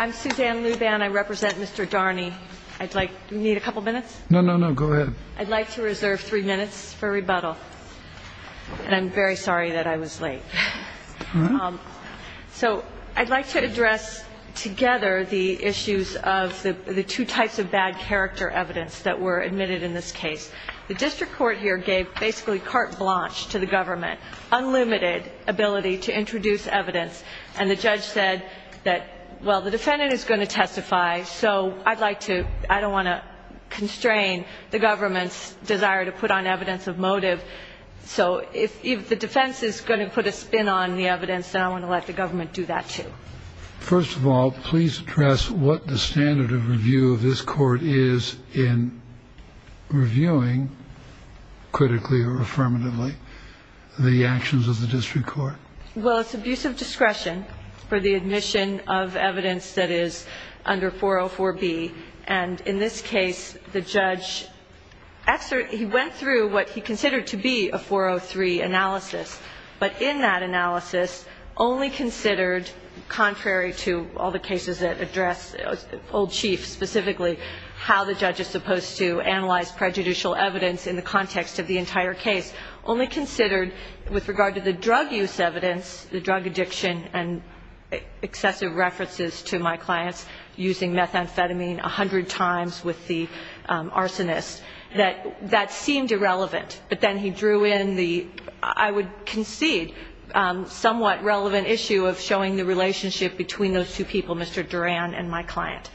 I'm Suzanne Luban. I represent Mr. Dharni. I'd like to reserve three minutes for rebuttal. And I'm very sorry that I was late. So I'd like to address together the issues of the two types of bad character evidence that were admitted in this case. The district court here gave basically carte blanche to the government, unlimited ability to introduce evidence. And the judge said that, well, the defendant is going to testify. So I'd like to – I don't want to constrain the government's desire to put on evidence of motive. So if the defense is going to put a spin on the evidence, then I want to let the government do that, too. First of all, please address what the standard of review of this court is in reviewing, critically or affirmatively, the actions of the district court. Well, it's abuse of discretion for the admission of evidence that is under 404B. And in this case, the judge – he went through what he considered to be a 403 analysis. But in that analysis, only considered contrary to all the cases that address old chiefs, specifically how the judge is supposed to analyze prejudicial evidence in the context of the entire case, only considered with regard to the drug use evidence, the drug addiction and excessive references to my clients using methamphetamine 100 times with the arsonist, that that seemed irrelevant. But then he drew in the, I would concede, somewhat relevant issue of showing the relationship between those two people, Mr. Duran and my client.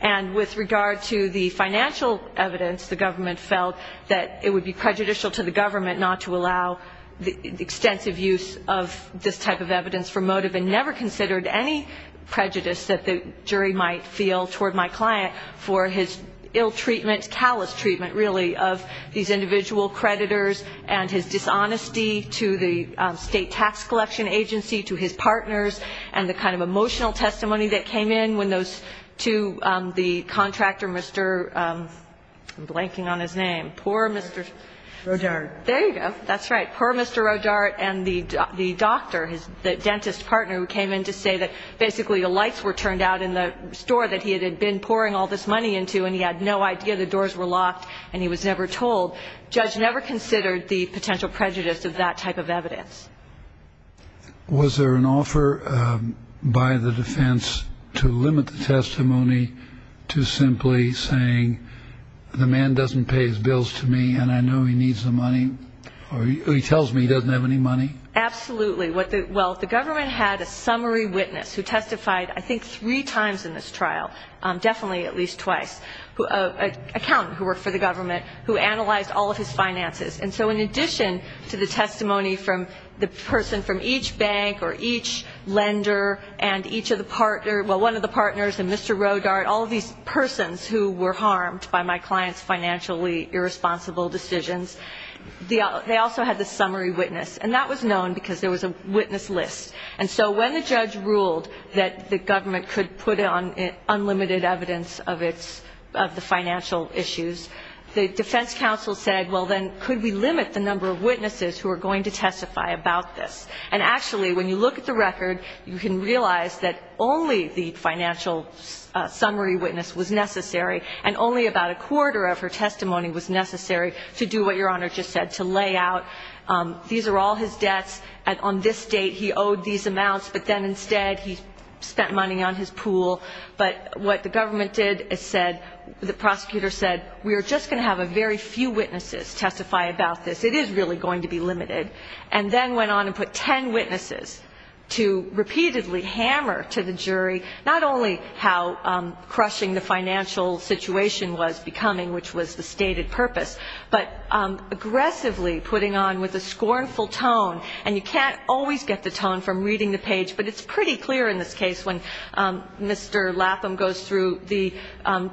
And with regard to the financial evidence, the government felt that it would be prejudicial to the government not to allow the extensive use of this type of evidence for motive and never considered any prejudice that the jury might feel toward my client for his ill treatment, callous treatment, really, of these individual creditors and his dishonesty to the state tax collection agency, to his partners, and the kind of emotional testimony that came in when those two, the contractor, Mr. I'm blanking on his name. Poor Mr. Rodart. There you go. That's right. Poor Mr. Rodart and the doctor, the dentist partner who came in to say that basically the lights were turned out in the store that he had been pouring all this money into and he had no idea the doors were locked and he was never told. The judge never considered the potential prejudice of that type of evidence. Was there an offer by the defense to limit the testimony to simply saying the man doesn't pay his bills to me and I know he needs the money, or he tells me he doesn't have any money? Absolutely. Well, the government had a summary witness who testified I think three times in this trial, definitely at least twice, an accountant who worked for the government who analyzed all of his finances. And so in addition to the testimony from the person from each bank or each lender and each of the partners, well, one of the partners and Mr. Rodart, all of these persons who were harmed by my client's financially irresponsible decisions, they also had the summary witness, and that was known because there was a witness list. And so when the judge ruled that the government could put on unlimited evidence of the financial issues, the defense counsel said, well, then could we limit the number of witnesses who are going to testify about this? And actually, when you look at the record, you can realize that only the financial summary witness was necessary and only about a quarter of her testimony was necessary to do what Your Honor just said, to lay out. These are all his debts, and on this date he owed these amounts, but then instead he spent money on his pool. But what the government did is said, the prosecutor said, we are just going to have a very few witnesses testify about this. It is really going to be limited. And then went on and put ten witnesses to repeatedly hammer to the jury not only how crushing the financial situation was becoming, which was the stated purpose, but aggressively putting on with a scornful tone. And you can't always get the tone from reading the page, but it's pretty clear in this case when Mr. Lapham goes through the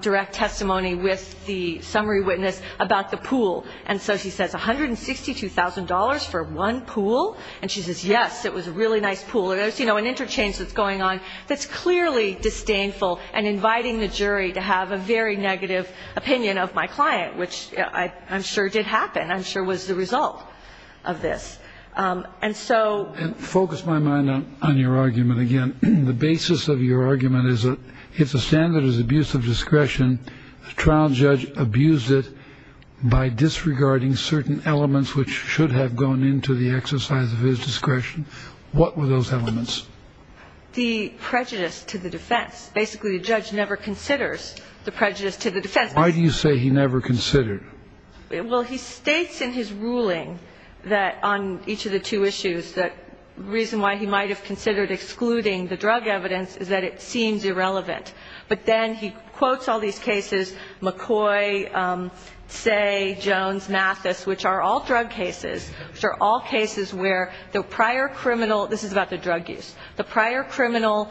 direct testimony with the summary witness about the pool. And so she says, $162,000 for one pool? And she says, yes, it was a really nice pool. And there's, you know, an interchange that's going on that's clearly disdainful and inviting the jury to have a very negative opinion of my client, which I'm sure did happen. I'm sure was the result of this. And so focus my mind on your argument. Again, the basis of your argument is it's a standard is abuse of discretion. The trial judge abused it by disregarding certain elements, which should have gone into the exercise of his discretion. What were those elements? The prejudice to the defense. Basically, the judge never considers the prejudice to the defense. Why do you say he never considered it? Well, he states in his ruling that on each of the two issues, the reason why he might have considered excluding the drug evidence is that it seems irrelevant. But then he quotes all these cases, McCoy, Say, Jones, Mathis, which are all drug cases, which are all cases where the prior criminal this is about the drug use, the prior criminal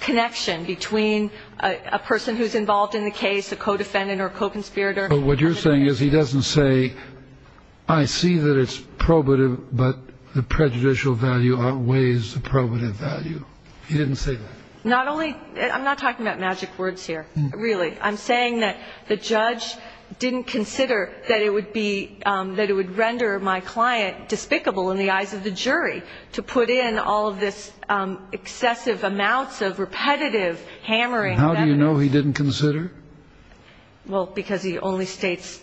connection between a person who's involved in the case, a co-defendant or a co-conspirator. But what you're saying is he doesn't say, I see that it's probative, but the prejudicial value outweighs the probative value. He didn't say that. Not only I'm not talking about magic words here, really. I'm saying that the judge didn't consider that it would be that it would render my client despicable in the eyes of the jury to put in all of this excessive amounts of repetitive hammering. How do you know he didn't consider? Well, because he only states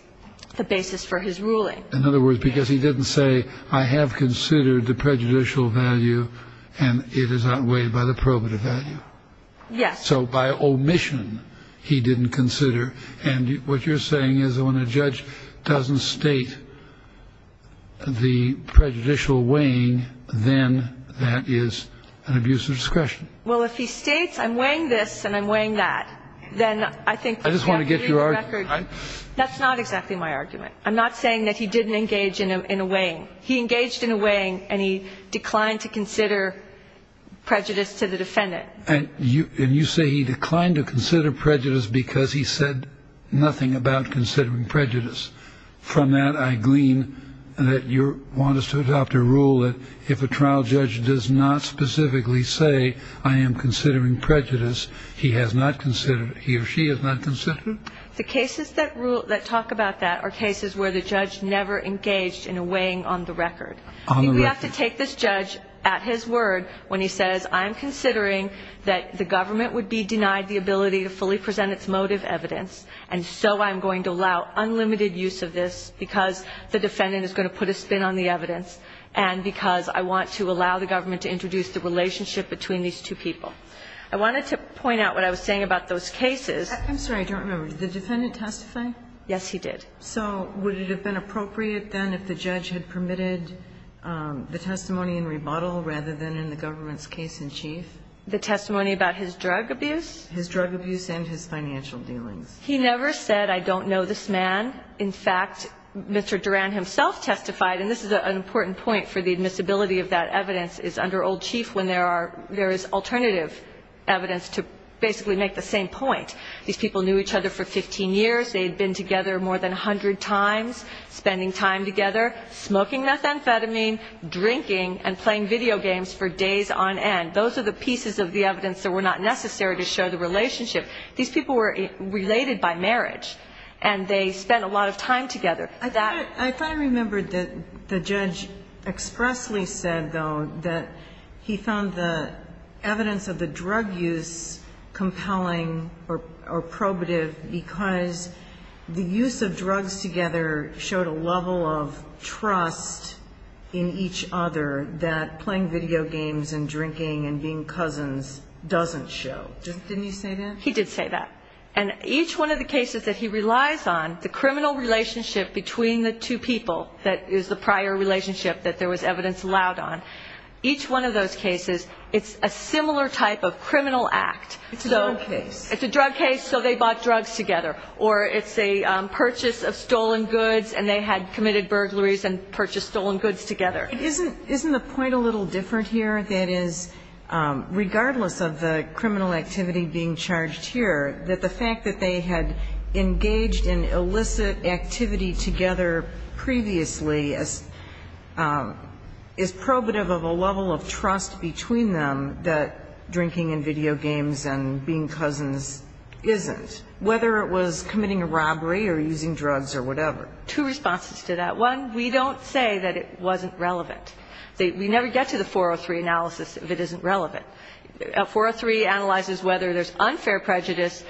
the basis for his ruling. In other words, because he didn't say I have considered the prejudicial value and it is outweighed by the probative value. Yes. So by omission, he didn't consider. And what you're saying is when a judge doesn't state the prejudicial weighing, then that is an abuse of discretion. Well, if he states I'm weighing this and I'm weighing that, then I think I just want to get your record. That's not exactly my argument. I'm not saying that he didn't engage in a way he engaged in a way and he declined to consider prejudice to the defendant. And you say he declined to consider prejudice because he said nothing about considering prejudice. From that, I glean that you want us to adopt a rule that if a trial judge does not specifically say I am considering prejudice, he has not considered he or she has not considered. The cases that rule that talk about that are cases where the judge never engaged in a weighing on the record. We have to take this judge at his word when he says I'm considering that the government would be denied the ability to fully present its motive evidence. And so I'm going to allow unlimited use of this because the defendant is going to put a spin on the evidence and because I want to allow the government to introduce the relationship between these two people. I wanted to point out what I was saying about those cases. I'm sorry, I don't remember. Did the defendant testify? Yes, he did. So would it have been appropriate then if the judge had permitted the testimony in rebuttal rather than in the government's case in chief? The testimony about his drug abuse? His drug abuse and his financial dealings. He never said I don't know this man. In fact, Mr. Duran himself testified, and this is an important point for the admissibility of that evidence, is under old chief when there is alternative evidence to basically make the same point. These people knew each other for 15 years. They had been together more than 100 times, spending time together, smoking methamphetamine, drinking, and playing video games for days on end. Those are the pieces of the evidence that were not necessary to show the relationship. These people were related by marriage, and they spent a lot of time together. I thought I remembered that the judge expressly said, though, that he found the evidence of the drug use compelling or probative because the use of drugs together showed a level of trust in each other that playing video games and drinking and being cousins doesn't show. Didn't he say that? He did say that. And each one of the cases that he relies on, the criminal relationship between the two people that is the prior relationship that there was evidence allowed on, each one of those cases, it's a similar type of criminal act. It's a drug case. It's a drug case, so they bought drugs together. Or it's a purchase of stolen goods, and they had committed burglaries and purchased stolen goods together. Isn't the point a little different here? That is, regardless of the criminal activity being charged here, that the fact that they had engaged in illicit activity together previously is probative of a level of trust between them that drinking and video games and being cousins isn't, whether it was committing a robbery or using drugs or whatever. Two responses to that. One, we don't say that it wasn't relevant. We never get to the 403 analysis if it isn't relevant. 403 analyzes whether there's unfair prejudice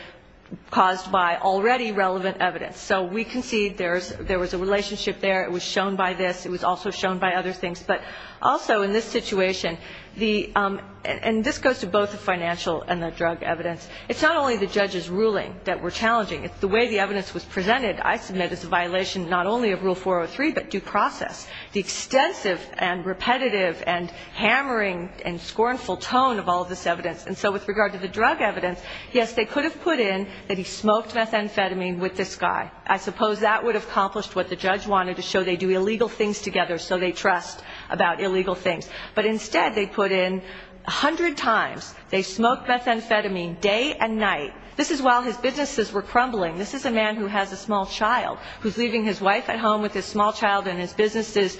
caused by already relevant evidence. So we concede there was a relationship there. It was shown by this. It was also shown by other things. But also in this situation, and this goes to both the financial and the drug evidence, it's not only the judge's ruling that we're challenging. The way the evidence was presented, I submit, is a violation not only of Rule 403, but due process. The extensive and repetitive and hammering and scornful tone of all of this evidence. And so with regard to the drug evidence, yes, they could have put in that he smoked methamphetamine with this guy. I suppose that would have accomplished what the judge wanted to show. They do illegal things together, so they trust about illegal things. But instead, they put in a hundred times they smoked methamphetamine day and night. This is while his businesses were crumbling. This is a man who has a small child who's leaving his wife at home with his small child and his businesses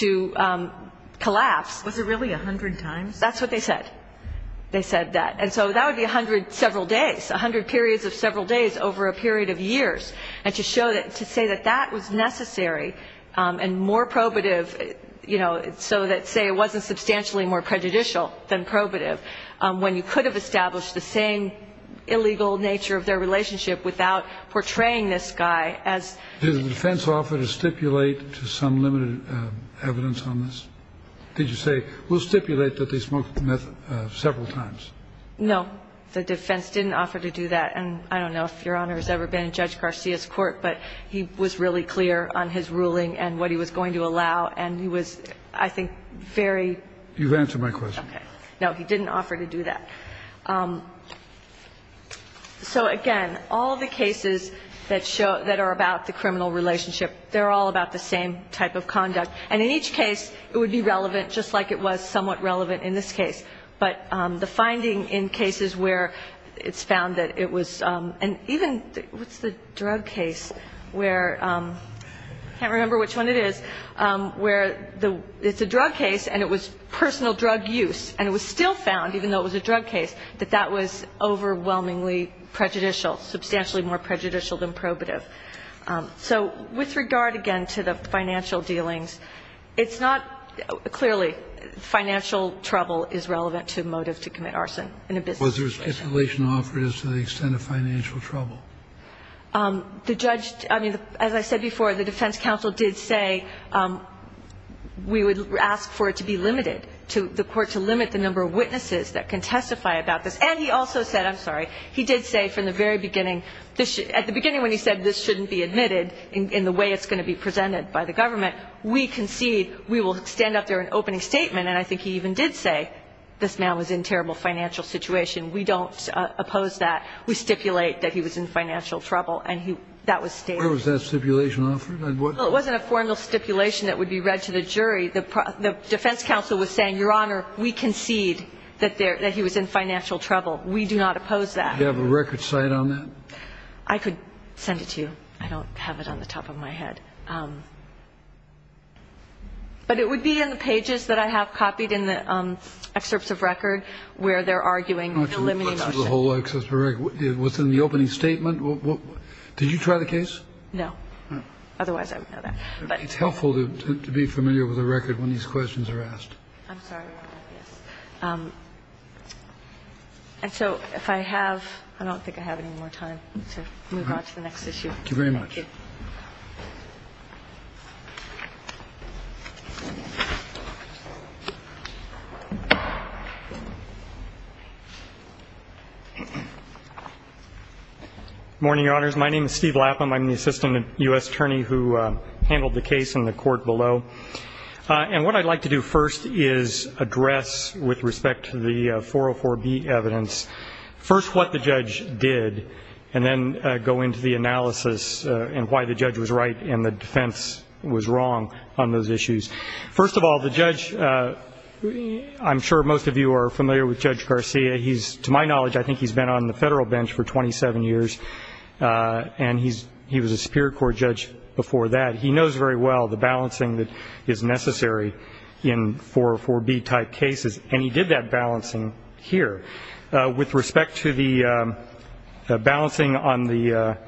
to collapse. Was it really a hundred times? That's what they said. They said that. And so that would be a hundred several days, a hundred periods of several days over a period of years. And to show that, to say that that was necessary and more probative, you know, so that, say, it wasn't substantially more prejudicial than probative, when you could have established the same illegal nature of their relationship without portraying this guy as... Did the defense offer to stipulate to some limited evidence on this? Did you say, we'll stipulate that they smoked methamphetamine several times? No. The defense didn't offer to do that. And I don't know if Your Honor has ever been in Judge Garcia's court, and he was, I think, very... You've answered my question. Okay. No, he didn't offer to do that. So, again, all the cases that are about the criminal relationship, they're all about the same type of conduct. And in each case, it would be relevant, just like it was somewhat relevant in this case. And even, what's the drug case where, I can't remember which one it is, where it's a drug case and it was personal drug use, and it was still found, even though it was a drug case, that that was overwhelmingly prejudicial, substantially more prejudicial than probative. So with regard, again, to the financial dealings, it's not... Clearly, financial trouble is relevant to motive to commit arson in a business case. And I don't know what the regulation offer is to the extent of financial trouble. The judge... I mean, as I said before, the defense counsel did say we would ask for it to be limited, to the court to limit the number of witnesses that can testify about this. And he also said... I'm sorry. He did say from the very beginning... At the beginning when he said this shouldn't be admitted in the way it's going to be presented by the government, we concede... We will stand up there in opening statement. And I think he even did say this man was in terrible financial situation. We don't oppose that. We stipulate that he was in financial trouble. And that was stated. Where was that stipulation offered? It wasn't a formal stipulation that would be read to the jury. The defense counsel was saying, Your Honor, we concede that he was in financial trouble. We do not oppose that. Do you have a record cite on that? I could send it to you. I don't have it on the top of my head. But it would be in the pages that I have copied in the excerpts of record where they're arguing the limiting motion. Let's look at the whole excerpt of the record. Was it in the opening statement? Did you try the case? No. Otherwise, I would know that. But... It's helpful to be familiar with the record when these questions are asked. I'm sorry, Your Honor. Yes. And so if I have... I don't think I have any more time to move on to the next issue. Thank you very much. Thank you. Good morning, Your Honors. My name is Steve Lapham. I'm the assistant U.S. attorney who handled the case in the court below. And what I'd like to do first is address, with respect to the 404B evidence, first what the judge did, and then go into the analysis and why the judge was right and the defense was wrong on those issues. First of all, the judge, I'm sure most of you are familiar with Judge Garcia. To my knowledge, I think he's been on the federal bench for 27 years, and he was a Superior Court judge before that. He knows very well the balancing that is necessary in 404B-type cases, and he did that balancing here. With respect to the balancing on the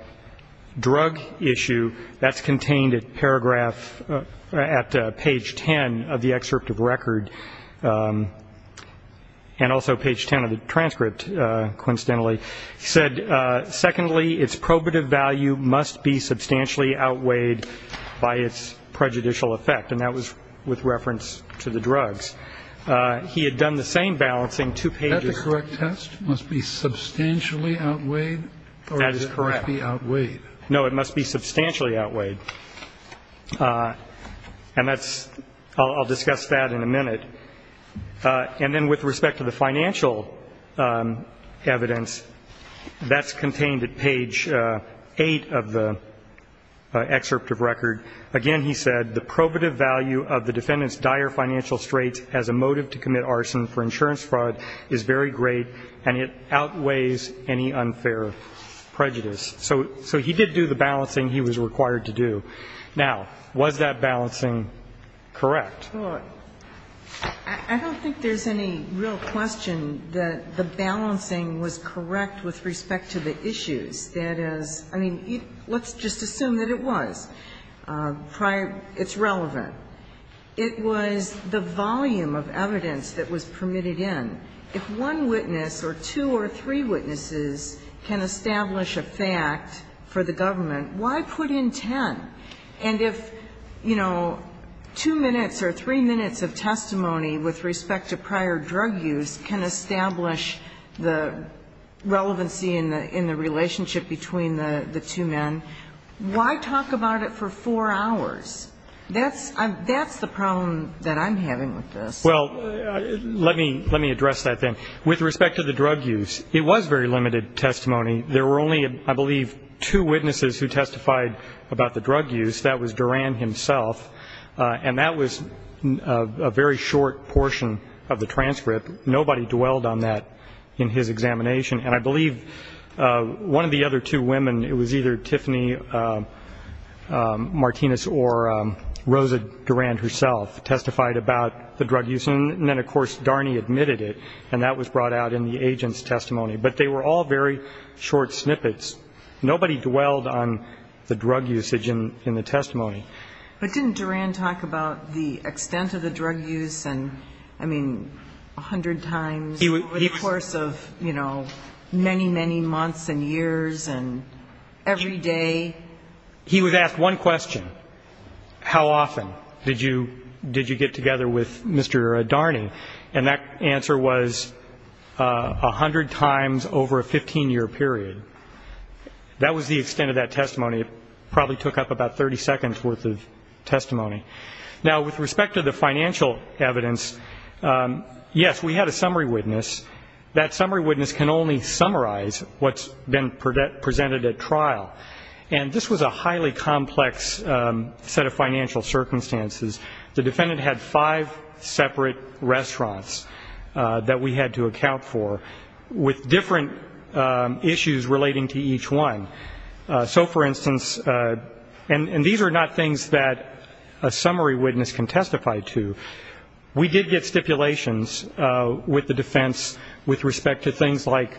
drug issue, that's contained at paragraph, at page 10 of the excerpt of record, and also page 10 of the transcript, coincidentally. He said, secondly, its probative value must be substantially outweighed by its prejudicial effect, and that was with reference to the drugs. He had done the same balancing two pages ago. Is that the correct test? Must be substantially outweighed? That is correct. Or must it be outweighed? No, it must be substantially outweighed. And that's, I'll discuss that in a minute. And then with respect to the financial evidence, that's contained at page 8 of the excerpt of record. Again, he said, the probative value of the defendant's dire financial straits as a motive to commit arson for insurance fraud is very great and it outweighs any unfair prejudice. So he did do the balancing he was required to do. Now, was that balancing correct? Well, I don't think there's any real question that the balancing was correct with respect to the issues. That is, I mean, let's just assume that it was. It's relevant. It was the volume of evidence that was permitted in. If one witness or two or three witnesses can establish a fact for the government, why put in ten? And if, you know, two minutes or three minutes of testimony with respect to prior drug use can establish the relevancy in the relationship between the two men, why talk about it for four hours? That's the problem that I'm having with this. Well, let me address that then. With respect to the drug use, it was very limited testimony. There were only, I believe, two witnesses who testified about the drug use. That was Duran himself, and that was a very short portion of the transcript. Nobody dwelled on that in his examination. And I believe one of the other two women, it was either Tiffany Martinez or Rosa Duran herself, testified about the drug use. And then, of course, Darney admitted it, and that was brought out in the agent's testimony. But they were all very short snippets. Nobody dwelled on the drug usage in the testimony. But didn't Duran talk about the extent of the drug use and, I mean, a hundred times over the course of, you know, many, many months and years and every day? He was asked one question, how often did you get together with Mr. Darney? And that answer was a hundred times over a 15-year period. That was the extent of that testimony. Now, with respect to the financial evidence, yes, we had a summary witness. That summary witness can only summarize what's been presented at trial. And this was a highly complex set of financial circumstances. The defendant had five separate restaurants that we had to account for, with different issues relating to each one. So, for instance, and these are not things that a summary witness can testify to. We did get stipulations with the defense with respect to things like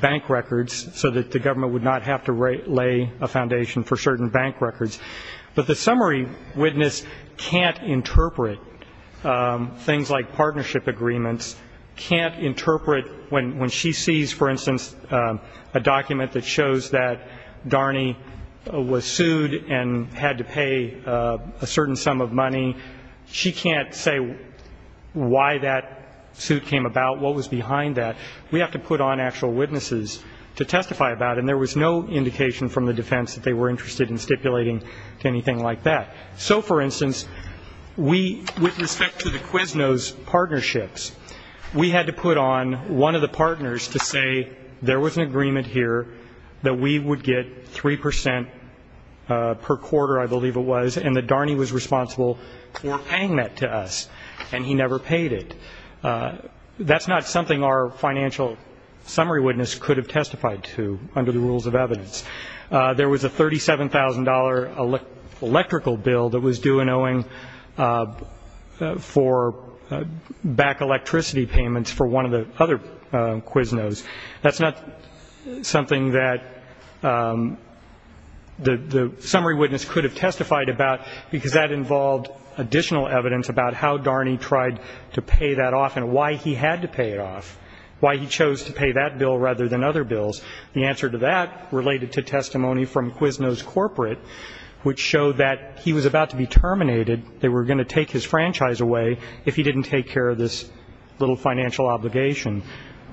bank records, so that the government would not have to lay a foundation for certain bank records. But the summary witness can't interpret things like partnership agreements, when she sees, for instance, a document that shows that Darney was sued and had to pay a certain sum of money, she can't say why that suit came about, what was behind that. We have to put on actual witnesses to testify about it, and there was no indication from the defense that they were interested in stipulating to anything like that. So, for instance, with respect to the Quesno's partnerships, we had to put on one of the partners to say, there was an agreement here that we would get 3 percent per quarter, I believe it was, and that Darney was responsible for paying that to us, and he never paid it. That's not something our financial summary witness could have testified to, under the rules of evidence. There was a $37,000 electrical bill that was due in Owing for back electricity payments for one of the other Quesno's. That's not something that the summary witness could have testified about, because that involved additional evidence about how Darney tried to pay that off and why he had to pay it off, why he chose to pay that bill rather than other bills. The answer to that related to testimony from Quesno's corporate, which showed that he was about to be terminated. They were going to take his franchise away if he didn't take care of this little financial obligation.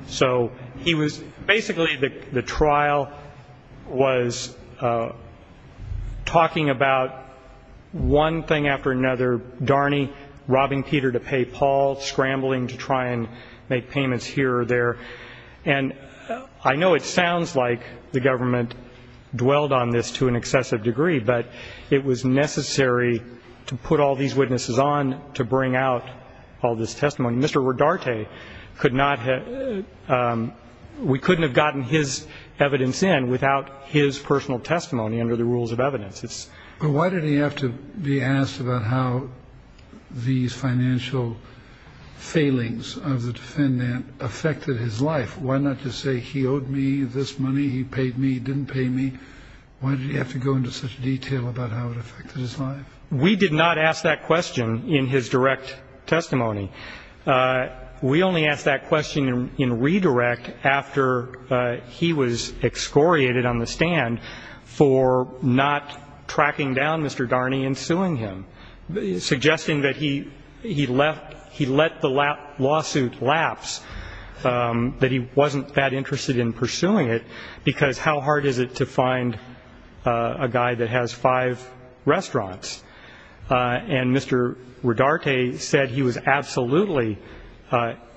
So he was basically the trial was talking about one thing after another, Darney robbing Peter to pay Paul, scrambling to try and make payments here or there. And I know it sounds like the government dwelled on this to an excessive degree, but it was necessary to put all these witnesses on to bring out all this testimony. Mr. Rodarte could not have, we couldn't have gotten his evidence in without his personal testimony under the rules of evidence. But why did he have to be asked about how these financial failings of the defendant affected his life? Why not just say he owed me this money, he paid me, he didn't pay me? Why did he have to go into such detail about how it affected his life? We did not ask that question in his direct testimony. We only asked that question in redirect after he was excoriated on the stand for not tracking down Mr. Darney and suing him, suggesting that he let the lawsuit lapse, that he wasn't that interested in pursuing it, because how hard is it to find a guy that has five restaurants? And Mr. Rodarte said he was absolutely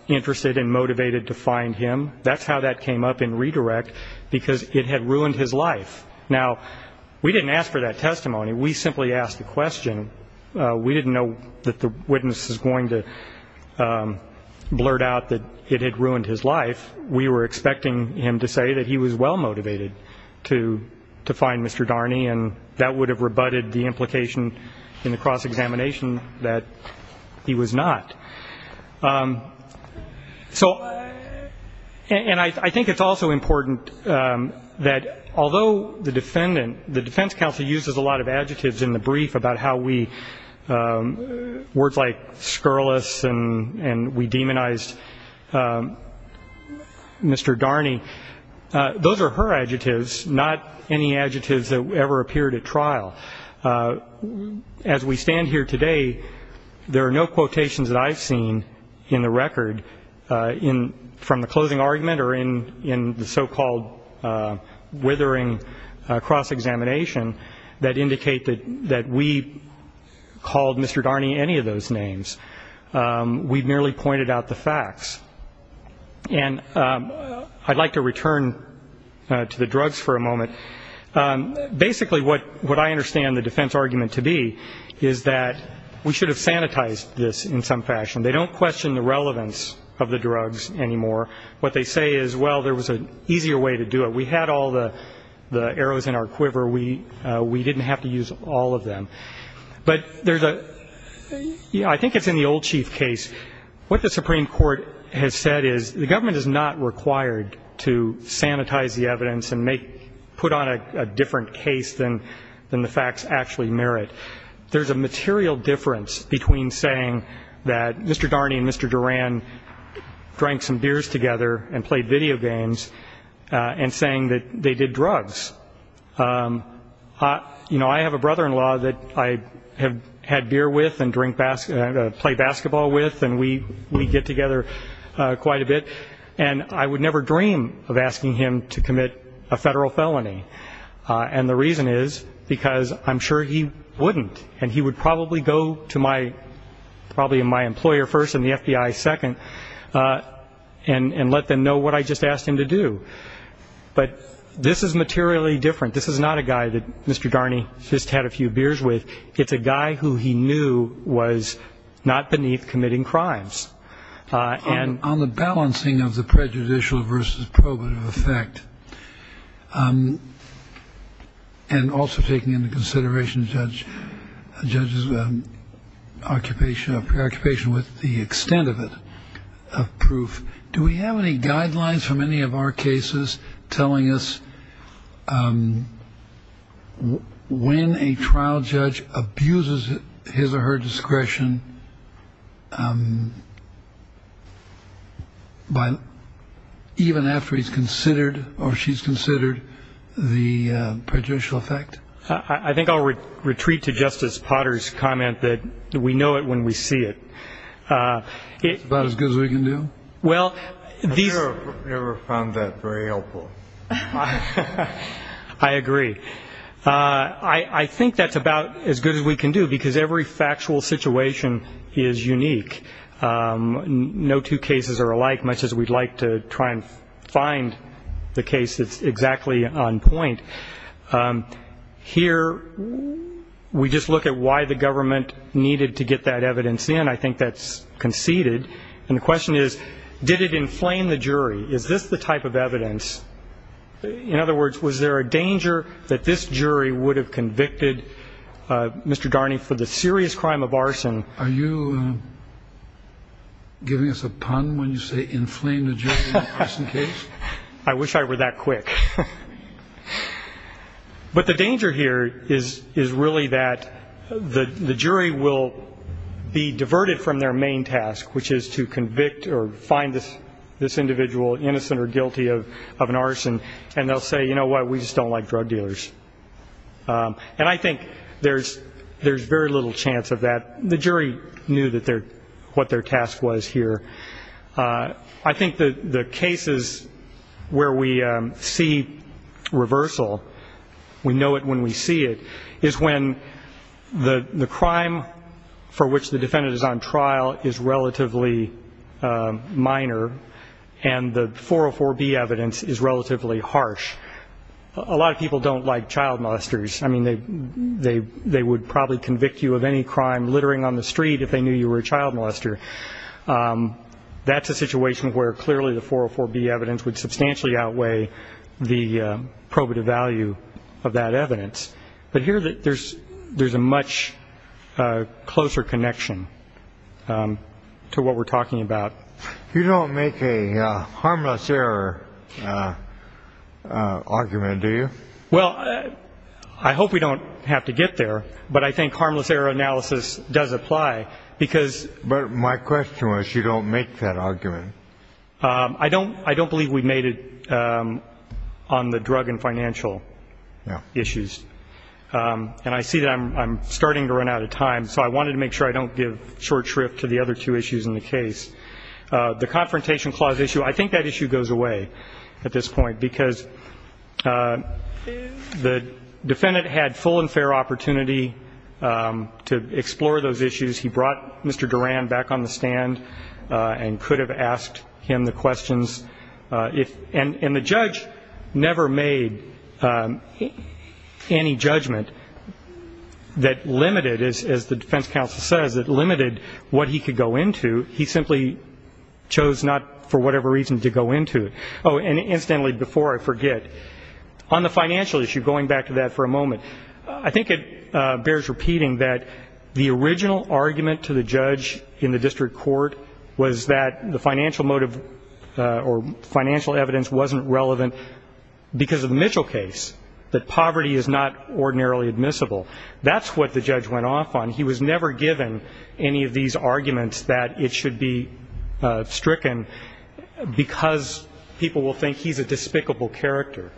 interested and motivated to find him. That's how that came up in redirect, because it had ruined his life. Now, we didn't ask for that testimony. We simply asked the question. We didn't know that the witness is going to blurt out that it had ruined his life. We were expecting him to say that he was well-motivated to find Mr. Darney, and that would have rebutted the implication in the cross-examination that he was not. So, and I think it's also important that although the defendant, the defense counsel uses a lot of adjectives in the brief about how we, words like scurrilous and we demonized Mr. Darney, those are her adjectives, not any adjectives that ever appeared at trial. As we stand here today, there are no quotations that I've seen in the record from the closing argument or in the so-called withering cross-examination that indicate that we called Mr. Darney any of those names. We merely pointed out the facts. And I'd like to return to the drugs for a moment. Basically, what I understand the defense argument to be is that we should have sanitized this in some fashion. They don't question the relevance of the drugs anymore. What they say is, well, there was an easier way to do it. We had all the arrows in our quiver. We didn't have to use all of them. But there's a, I think it's in the old chief case, what the Supreme Court has said is the government is not required to sanitize the evidence and put on a different case than the facts actually merit. But there's a material difference between saying that Mr. Darney and Mr. Duran drank some beers together and played video games and saying that they did drugs. You know, I have a brother-in-law that I have had beer with and drink, play basketball with, and we get together quite a bit. And I would never dream of asking him to commit a federal felony. And the reason is because I'm sure he wouldn't, and he would probably go to my employer first and the FBI second and let them know what I just asked him to do. But this is materially different. This is not a guy that Mr. Darney just had a few beers with. It's a guy who he knew was not beneath committing crimes. On the balancing of the prejudicial versus probative effect, and also taking into consideration the judge's occupation or preoccupation with the extent of it, of proof, do we have any guidelines from any of our cases telling us when a trial judge abuses his or her discretion, even after he's considered or she's considered the prejudicial effect? I think I'll retreat to Justice Potter's comment that we know it when we see it. It's about as good as we can do? I've never found that very helpful. I agree. I think that's about as good as we can do, because every factual situation is unique. No two cases are alike, much as we'd like to try and find the case that's exactly on point. Here we just look at why the government needed to get that evidence in. I think that's conceded. And the question is, did it inflame the jury? Is this the type of evidence? In other words, was there a danger that this jury would have convicted Mr. Darney for the serious crime of arson? Are you giving us a pun when you say inflame the jury in an arson case? I wish I were that quick. But the danger here is really that the jury will be diverted from their main task, which is to convict or find this individual innocent or guilty of an arson, and they'll say, you know what, we just don't like drug dealers. And I think there's very little chance of that. The jury knew what their task was here. I think the cases where we see reversal, we know it when we see it, is when the crime for which the defendant is on trial is relatively minor, and the 404B evidence is relatively harsh. A lot of people don't like child molesters. I mean, they would probably convict you of any crime littering on the street if they knew you were a child molester. That's a situation where clearly the 404B evidence would substantially outweigh the probative value of that evidence. But here there's a much closer connection to what we're talking about. You don't make a harmless error argument, do you? Well, I hope we don't have to get there, but I think harmless error analysis does apply. But my question was, you don't make that argument. I don't believe we made it on the drug and financial issues. And I see that I'm starting to run out of time, so I wanted to make sure I don't give short shrift to the other two issues in the case. The confrontation clause issue, I think that issue goes away at this point, because the defendant had full and fair opportunity to explore those issues. He brought Mr. Duran back on the stand and could have asked him the questions. And the judge never made any judgment that limited, as the defense counsel says, that limited what he could go into. He simply chose not, for whatever reason, to go into it. Oh, and incidentally, before I forget, on the financial issue, going back to that for a moment, I think it bears repeating that the original argument to the judge in the district court was that the financial motive or financial evidence wasn't relevant because of the Mitchell case, that poverty is not ordinarily admissible. That's what the judge went off on. He was never given any of these arguments that it should be stricken because people will think he's a despicable character.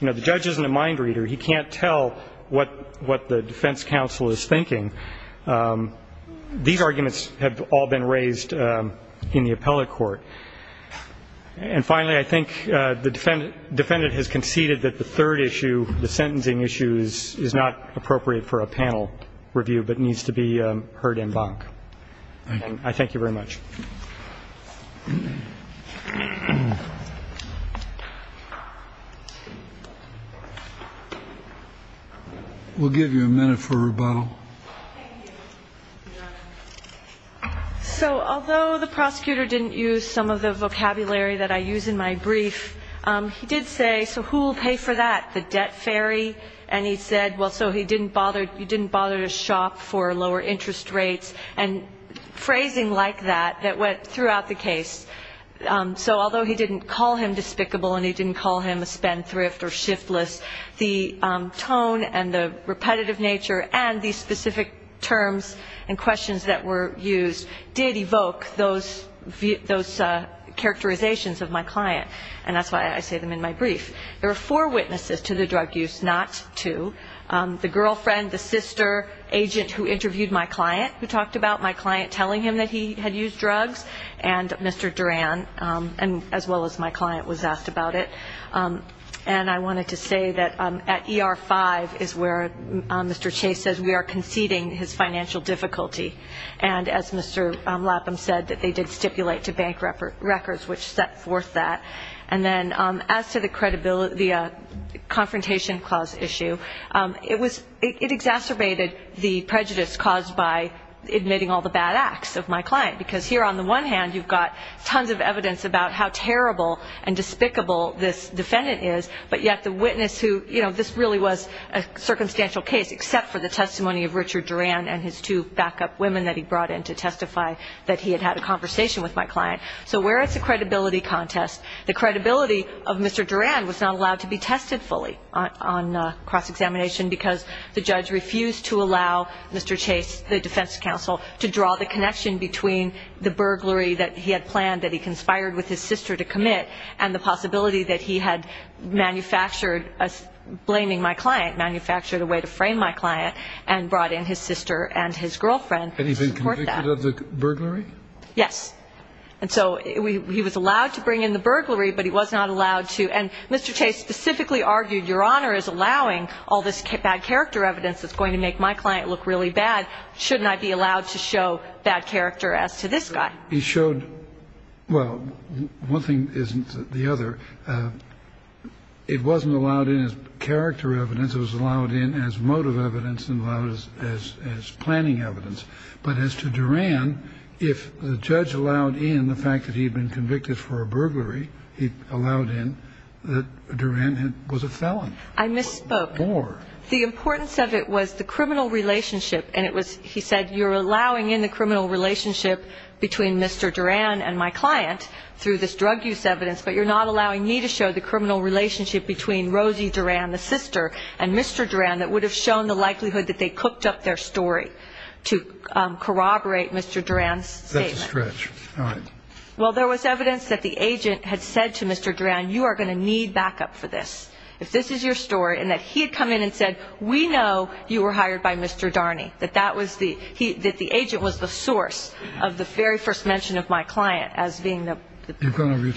You know, the judge isn't a mind reader. He can't tell what the defense counsel is thinking. These arguments have all been raised in the appellate court. And finally, I think the defendant has conceded that the third issue, the sentencing issue, is not appropriate for a panel review but needs to be heard en banc. Thank you. I thank you very much. We'll give you a minute for rebuttal. So although the prosecutor didn't use some of the vocabulary that I use in my brief, he did say, so who will pay for that, the debt fairy? And he said, well, so he didn't bother to shop for lower interest rates, and phrasing like that that went throughout the case. So although he didn't call him despicable and he didn't call him a spendthrift or shiftless, the tone and the repetitive nature and the specific terms and questions that were used did evoke those characterizations of my client, and that's why I say them in my brief. There were four witnesses to the drug use, not two, the girlfriend, the sister, agent who interviewed my client who talked about my client telling him that he had used drugs, and Mr. Duran, as well as my client was asked about it. And I wanted to say that at ER-5 is where Mr. Chase says we are conceding his financial difficulty. And as Mr. Lapham said, that they did stipulate to bank records which set forth that. And then as to the confrontation clause issue, it exacerbated the prejudice caused by admitting all the bad acts of my client, because here on the one hand you've got tons of evidence about how terrible and despicable this defendant is, but yet the witness who, you know, this really was a circumstantial case except for the testimony of Richard Duran and his two backup women that he brought in to testify that he had had a conversation with my client. So where is the credibility contest? The credibility of Mr. Duran was not allowed to be tested fully on cross-examination because the judge refused to allow Mr. Chase, the defense counsel, to draw the connection between the burglary that he had planned that he conspired with his sister to commit and the possibility that he had manufactured, blaming my client, manufactured a way to frame my client and brought in his sister and his girlfriend to support that. Had he been convicted of the burglary? Yes. And so he was allowed to bring in the burglary, but he was not allowed to. And Mr. Chase specifically argued, Your Honor is allowing all this bad character evidence that's going to make my client look really bad. Shouldn't I be allowed to show bad character as to this guy? He showed, well, one thing isn't the other. It wasn't allowed in as character evidence. It was allowed in as motive evidence and allowed as planning evidence. But as to Duran, if the judge allowed in the fact that he had been convicted for a burglary, he allowed in that Duran was a felon. I misspoke. What for? The importance of it was the criminal relationship, and it was, he said, you're allowing in the criminal relationship between Mr. Duran and my client through this drug use evidence, but you're not allowing me to show the criminal relationship between Rosie Duran, the sister, and Mr. Duran that would have shown the likelihood that they cooked up their story to corroborate Mr. Duran's statement. That's a stretch. All right. Well, there was evidence that the agent had said to Mr. Duran, you are going to need backup for this. If this is your story, and that he had come in and said, we know you were hired by Mr. Darney, that that was the, that the agent was the source of the very first mention of my client as being the, I think it's time. You have two more minutes left. We'll take care of that. You've got your time. Thank you very much. Thank you very much, Your Honor. The case of the United States v. Durney is, will be submitted.